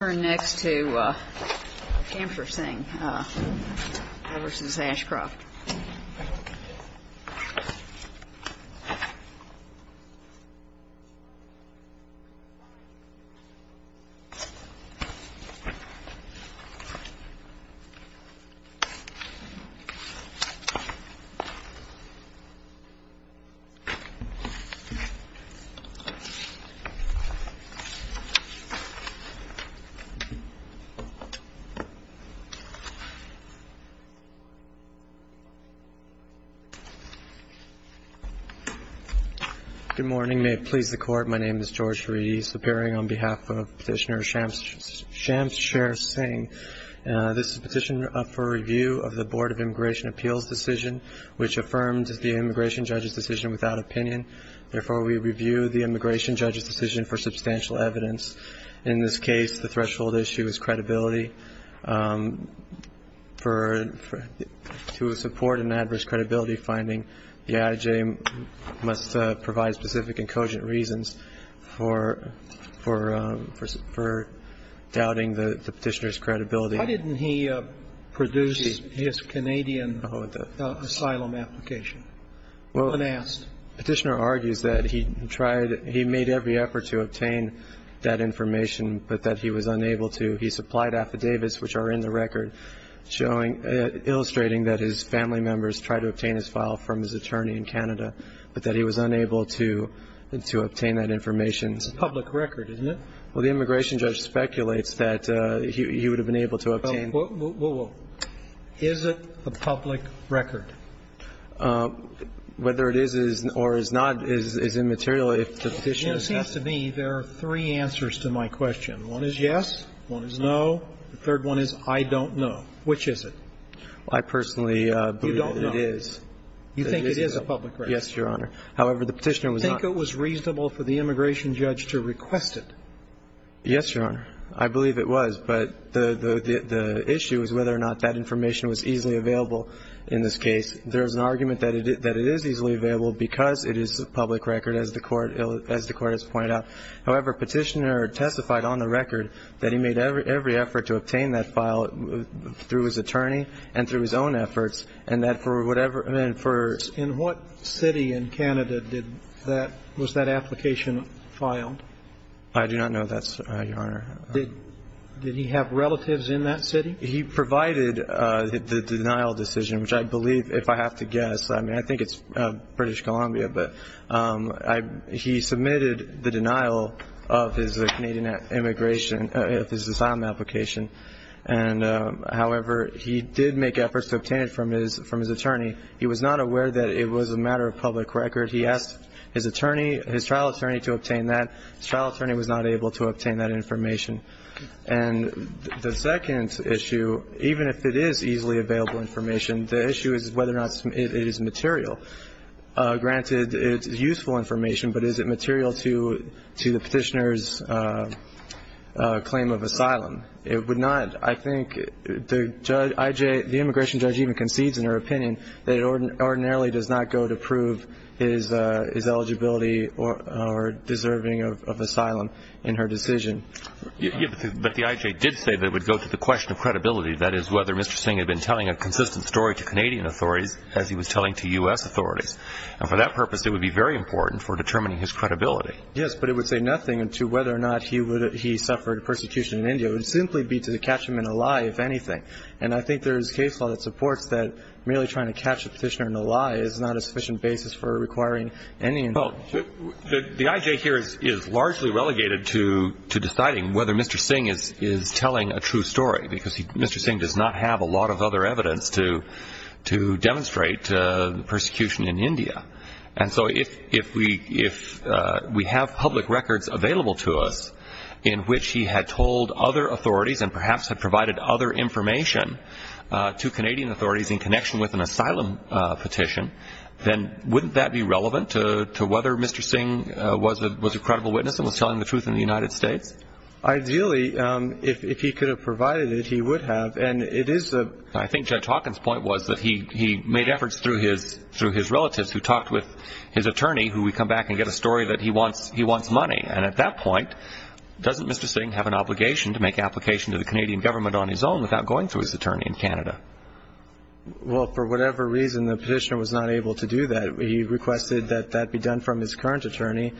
We'll turn next to the campus thing, Everson's Ashcroft. Good morning. May it please the court. My name is George Reedy, appearing on behalf of petitioner Shamsher Singh. This is a petition for review of the Board of Immigration Appeals Decision, which affirms the immigration judge's decision without opinion. Therefore, we review the immigration judge's decision for substantial evidence. In this case, the threshold is that the immigration judge's decision is without opinion. The threshold issue is credibility. To support an adverse credibility finding, the adj. must provide specific and cogent reasons for doubting the petitioner's credibility. Why didn't he produce his Canadian asylum application unasked? Petitioner argues that he made every effort to obtain that information, but that he was unable to. He supplied affidavits, which are in the record, illustrating that his family members tried to obtain his file from his attorney in Canada, but that he was unable to obtain that information. It's a public record, isn't it? Well, the immigration judge speculates that he would have been able to obtain. Is it a public record? Whether it is or is not is immaterial. It seems to me there are three answers to my question. One is yes. One is no. The third one is I don't know. Which is it? I personally believe it is. You think it is a public record? Yes, Your Honor. However, the petitioner was not. Do you think it was reasonable for the immigration judge to request it? Yes, Your Honor. I believe it was. But the issue is whether or not that information was easily available in this case. There is an argument that it is easily available because it is a public record, as the Court has pointed out. However, Petitioner testified on the record that he made every effort to obtain that file through his attorney and through his own efforts, and that for whatever In what city in Canada was that application filed? I do not know that, Your Honor. Did he have relatives in that city? He provided the denial decision, which I believe, if I have to guess, I mean, I think it's British Columbia, but he submitted the denial of his Canadian immigration, of his asylum application. And, however, he did make efforts to obtain it from his attorney. He was not aware that it was a matter of public record. He asked his attorney, his trial attorney, to obtain that. His trial attorney was not able to obtain that information. And the second issue, even if it is easily available information, the issue is whether or not it is material. Granted, it's useful information, but is it material to the Petitioner's claim of asylum? It would not. I think the immigration judge even concedes in her opinion that it ordinarily does not go to prove his eligibility or deserving of asylum in her decision. Yes, but the IJ did say that it would go to the question of credibility, that is, whether Mr. Singh had been telling a consistent story to Canadian authorities as he was telling to U.S. authorities. And for that purpose, it would be very important for determining his credibility. Yes, but it would say nothing to whether or not he suffered persecution in India. It would simply be to catch him in a lie, if anything. And I think there is case law that supports that merely trying to catch a petitioner in a lie is not a sufficient basis for requiring any information. Well, the IJ here is largely relegated to deciding whether Mr. Singh is telling a true story, because Mr. Singh does not have a lot of other evidence to demonstrate persecution in India. And so if we have public records available to us in which he had told other authorities and perhaps had provided other information to Canadian authorities in connection with an asylum petition, then wouldn't that be relevant to whether Mr. Singh was a credible witness and was telling the truth in the United States? Ideally, if he could have provided it, he would have. I think Judge Hawkins' point was that he made efforts through his relatives, who talked with his attorney, who would come back and get a story that he wants money. And at that point, doesn't Mr. Singh have an obligation to make application to the Canadian government on his own without going through his attorney in Canada? Well, for whatever reason, the petitioner was not able to do that. He requested that that be done from his current attorney,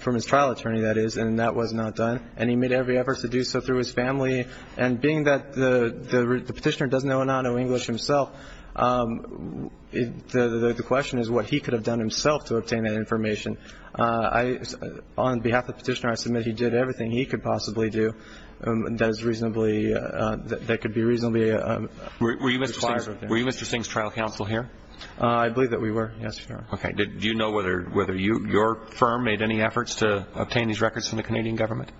from his trial attorney, that is, and that was not done. And he made every effort to do so through his family. And being that the petitioner doesn't know Enano English himself, the question is what he could have done himself to obtain that information. On behalf of the petitioner, I submit he did everything he could possibly do that could be reasonably required. Were you Mr. Singh's trial counsel here? I believe that we were, yes, Your Honor. Okay. Do you know whether your firm made any efforts to obtain these records from the Canadian government?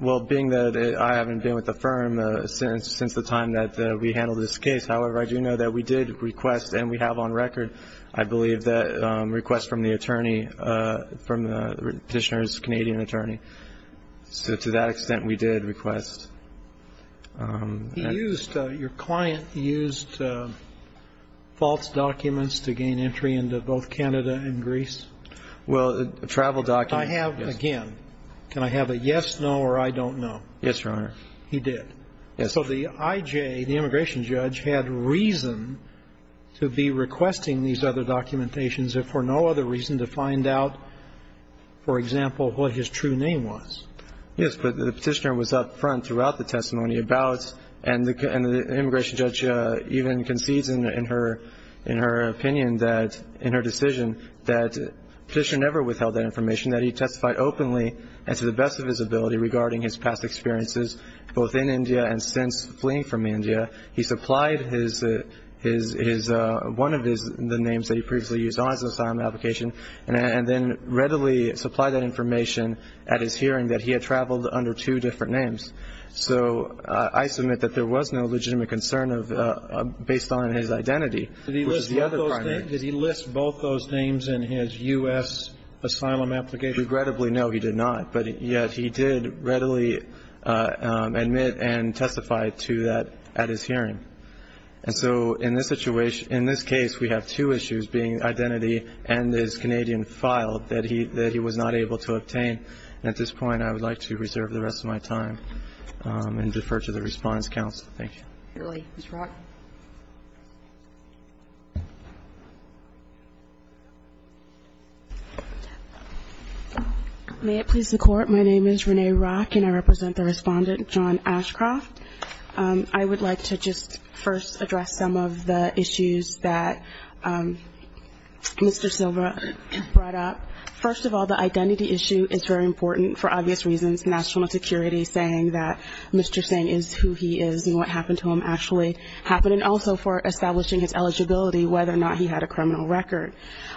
Well, being that I haven't been with the firm since the time that we handled this case, however, I do know that we did request, and we have on record, I believe, that request from the attorney, from the petitioner's Canadian attorney. So to that extent, we did request. He used, your client used false documents to gain entry into both Canada and Greece? Well, travel documents. I have, again, can I have a yes, no, or I don't know? Yes, Your Honor. He did? Yes. So the IJ, the immigration judge, had reason to be requesting these other documentations if for no other reason to find out, for example, what his true name was? Yes, but the petitioner was up front throughout the testimony about, and the immigration judge even concedes in her opinion that, in her decision, that petitioner never withheld that information, that he testified openly and to the best of his ability regarding his past experiences, both in India and since fleeing from India. He supplied his, one of his, the names that he previously used on his asylum application, and then readily supplied that information at his hearing that he had traveled under two different names. So I submit that there was no legitimate concern based on his identity, which is the other primary. Did he list both those names in his U.S. asylum application? Regrettably, no, he did not. But yet he did readily admit and testify to that at his hearing. And so in this situation, in this case, we have two issues being identity and his Canadian file that he was not able to obtain. At this point, I would like to reserve the rest of my time and defer to the response counsel. Thank you. Ms. Rock. May it please the Court, my name is Renee Rock, and I represent the respondent, John Ashcroft. I would like to just first address some of the issues that Mr. Silva brought up. First of all, the identity issue is very important for obvious reasons, national security saying that Mr. Singh is who he is and what happened to him actually happened, and also for establishing his eligibility, whether or not he had a criminal record.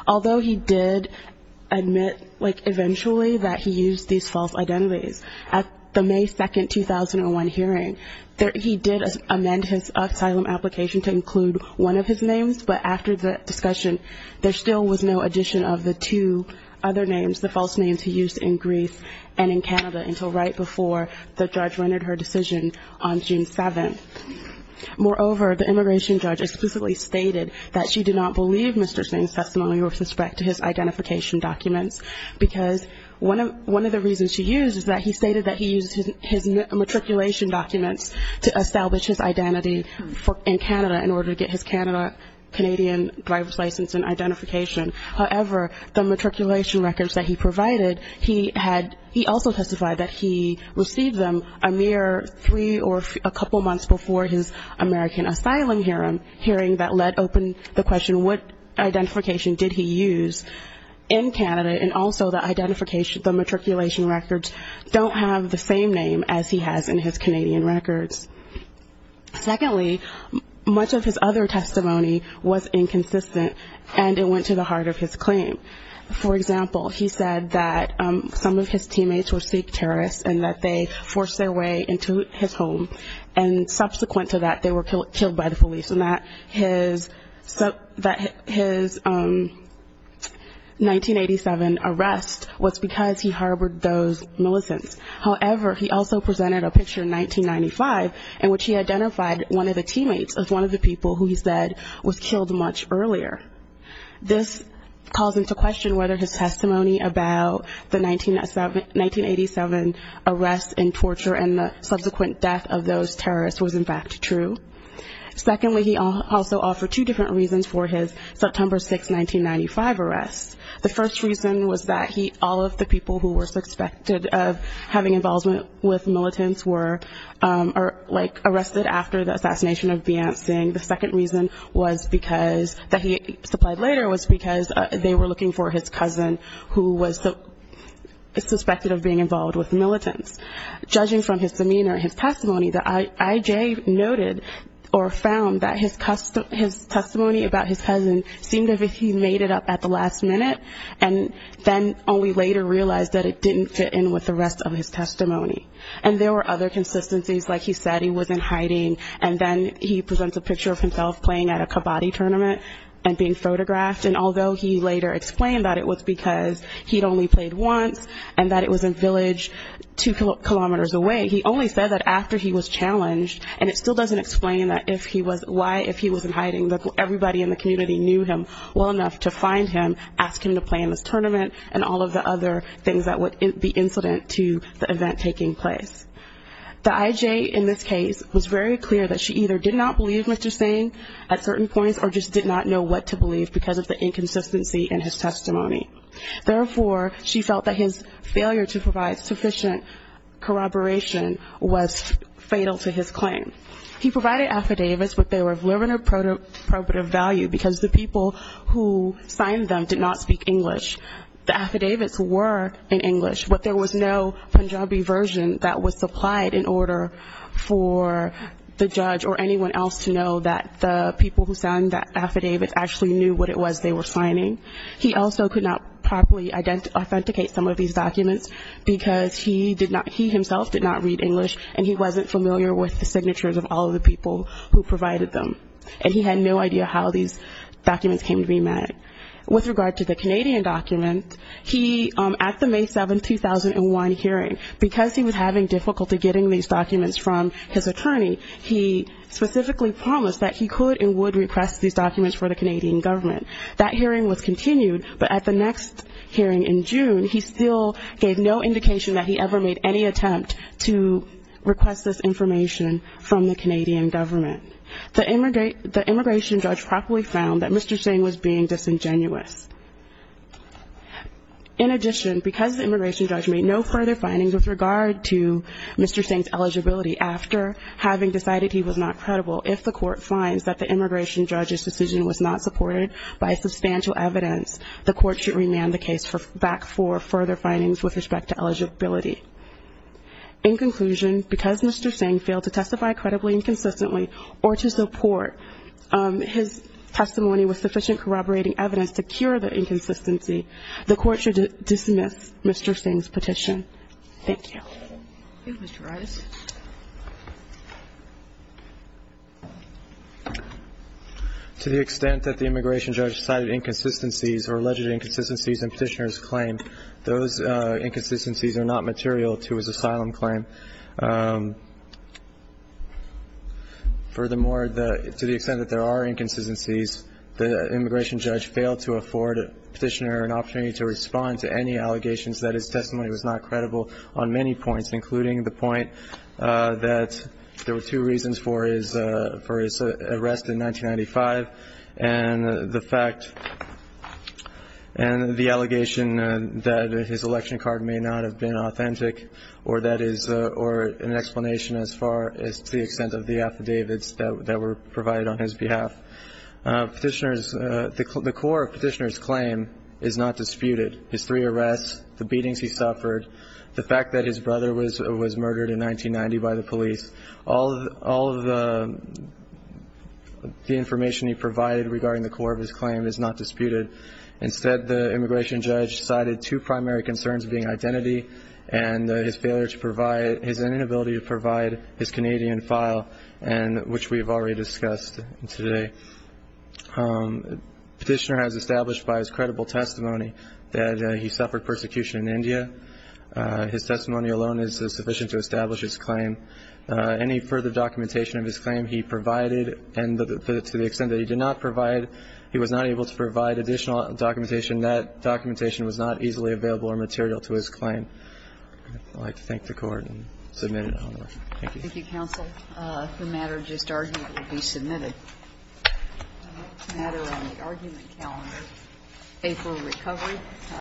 Although he did admit, like, eventually that he used these false identities, at the May 2, 2001 hearing, he did amend his asylum application to include one of his names, but after the discussion, there still was no addition of the two other names, the false names he used in Greece and in Canada, until right before the judge rendered her decision on June 7. Moreover, the immigration judge explicitly stated that she did not believe Mr. Singh's testimony or suspect to his identification documents, because one of the reasons she used is that he stated that he used his matriculation documents to establish his identity in Canada in order to get his Canada Canadian driver's license and identification. However, the matriculation records that he provided, he also testified that he received them a mere three or a couple months before his American asylum hearing, that let open the question what identification did he use in Canada, and also the matriculation records don't have the same name as he has in his Canadian records. Secondly, much of his other testimony was inconsistent, and it went to the heart of his claim. For example, he said that some of his teammates were Sikh terrorists, and that they forced their way into his home, and subsequent to that, they were killed by the police, and that his 1987 arrest was because he harbored those militants. However, he also presented a picture in 1995 in which he identified one of the teammates as one of the people who he said was killed much earlier. This calls into question whether his testimony about the 1987 arrest and torture and the subsequent death of those terrorists was in fact true. Secondly, he also offered two different reasons for his September 6, 1995 arrest. The first reason was that all of the people who were suspected of having involvement with militants were like arrested after the assassination of Viant Singh. The second reason was because that he supplied later was because they were looking for his cousin who was suspected of being involved with militants. Judging from his demeanor, his testimony, the IJ noted or found that his testimony about his cousin seemed as if he made it up at the last minute, and then only later realized that it didn't fit in with the rest of his testimony. And there were other consistencies, like he said he was in hiding, and then he presents a picture of himself playing at a Kabaddi tournament and being photographed, and although he later explained that it was because he'd only played once, and that it was a village two kilometers away, he only said that after he was challenged, and it still doesn't explain why if he was in hiding that everybody in the community knew him well enough to find him, ask him to play in this tournament, and all of the other things that would be incident to the event taking place. The IJ in this case was very clear that she either did not believe Mr. Singh at certain points, or just did not know what to believe because of the inconsistency in his testimony. Therefore, she felt that his failure to provide sufficient corroboration was fatal to his claim. He provided affidavits, but they were of limited value, because the people who signed them did not speak English. The affidavits were in English, but there was no Punjabi version that was supplied in order for the judge or anyone else to know that the people who signed that affidavit actually knew what it was they were signing. He also could not properly authenticate some of these documents, because he himself did not read English, and he wasn't familiar with the signatures of all of the people who provided them. And he had no idea how these documents came to be met. With regard to the Canadian document, at the May 7, 2001 hearing, because he was having difficulty getting these documents from his attorney, he specifically promised that he could and would request these documents for the Canadian government. That hearing was continued, but at the next hearing in June, he still gave no indication that he ever made any attempt to request this information from the Canadian government. The immigration judge properly found that Mr. Singh was being disingenuous. In addition, because the immigration judge made no further findings with regard to Mr. Singh's eligibility after having decided he was not credible, if the court finds that the immigration judge's decision was not supported by substantial evidence, the court should remand the case back for further findings with respect to eligibility. In conclusion, because Mr. Singh failed to testify credibly and consistently, or to support his testimony with sufficient corroborating evidence to cure the inconsistency, the court should dismiss Mr. Singh's petition. Thank you. To the extent that the immigration judge cited inconsistencies or alleged inconsistencies in Petitioner's claim, those inconsistencies are not material to his asylum claim. Furthermore, to the extent that there are inconsistencies, the immigration judge failed to afford Petitioner an opportunity to respond to any allegations that his testimony was not credible on many points, including the point that there were two reasons for his arrest in 1995 and the fact and the allegation that his election card may not have been authentic or that is an explanation as far as to the extent of the affidavits that were provided on his behalf. Petitioner's, the core of Petitioner's claim is not disputed. His three arrests, the beatings he suffered, the fact that his brother was murdered in 1990 by the police, all of the information he provided regarding the core of his claim is not disputed. Instead, the immigration judge cited two primary concerns being identity and his failure to provide, his inability to provide his Canadian file, which we have already discussed today. Petitioner has established by his credible testimony that he suffered persecution in India. His testimony alone is sufficient to establish his claim. Any further documentation of his claim he provided, and to the extent that he did not provide, he was not able to provide additional documentation. That documentation was not easily available or material to his claim. I'd like to thank the Court and submit an honor. Thank you.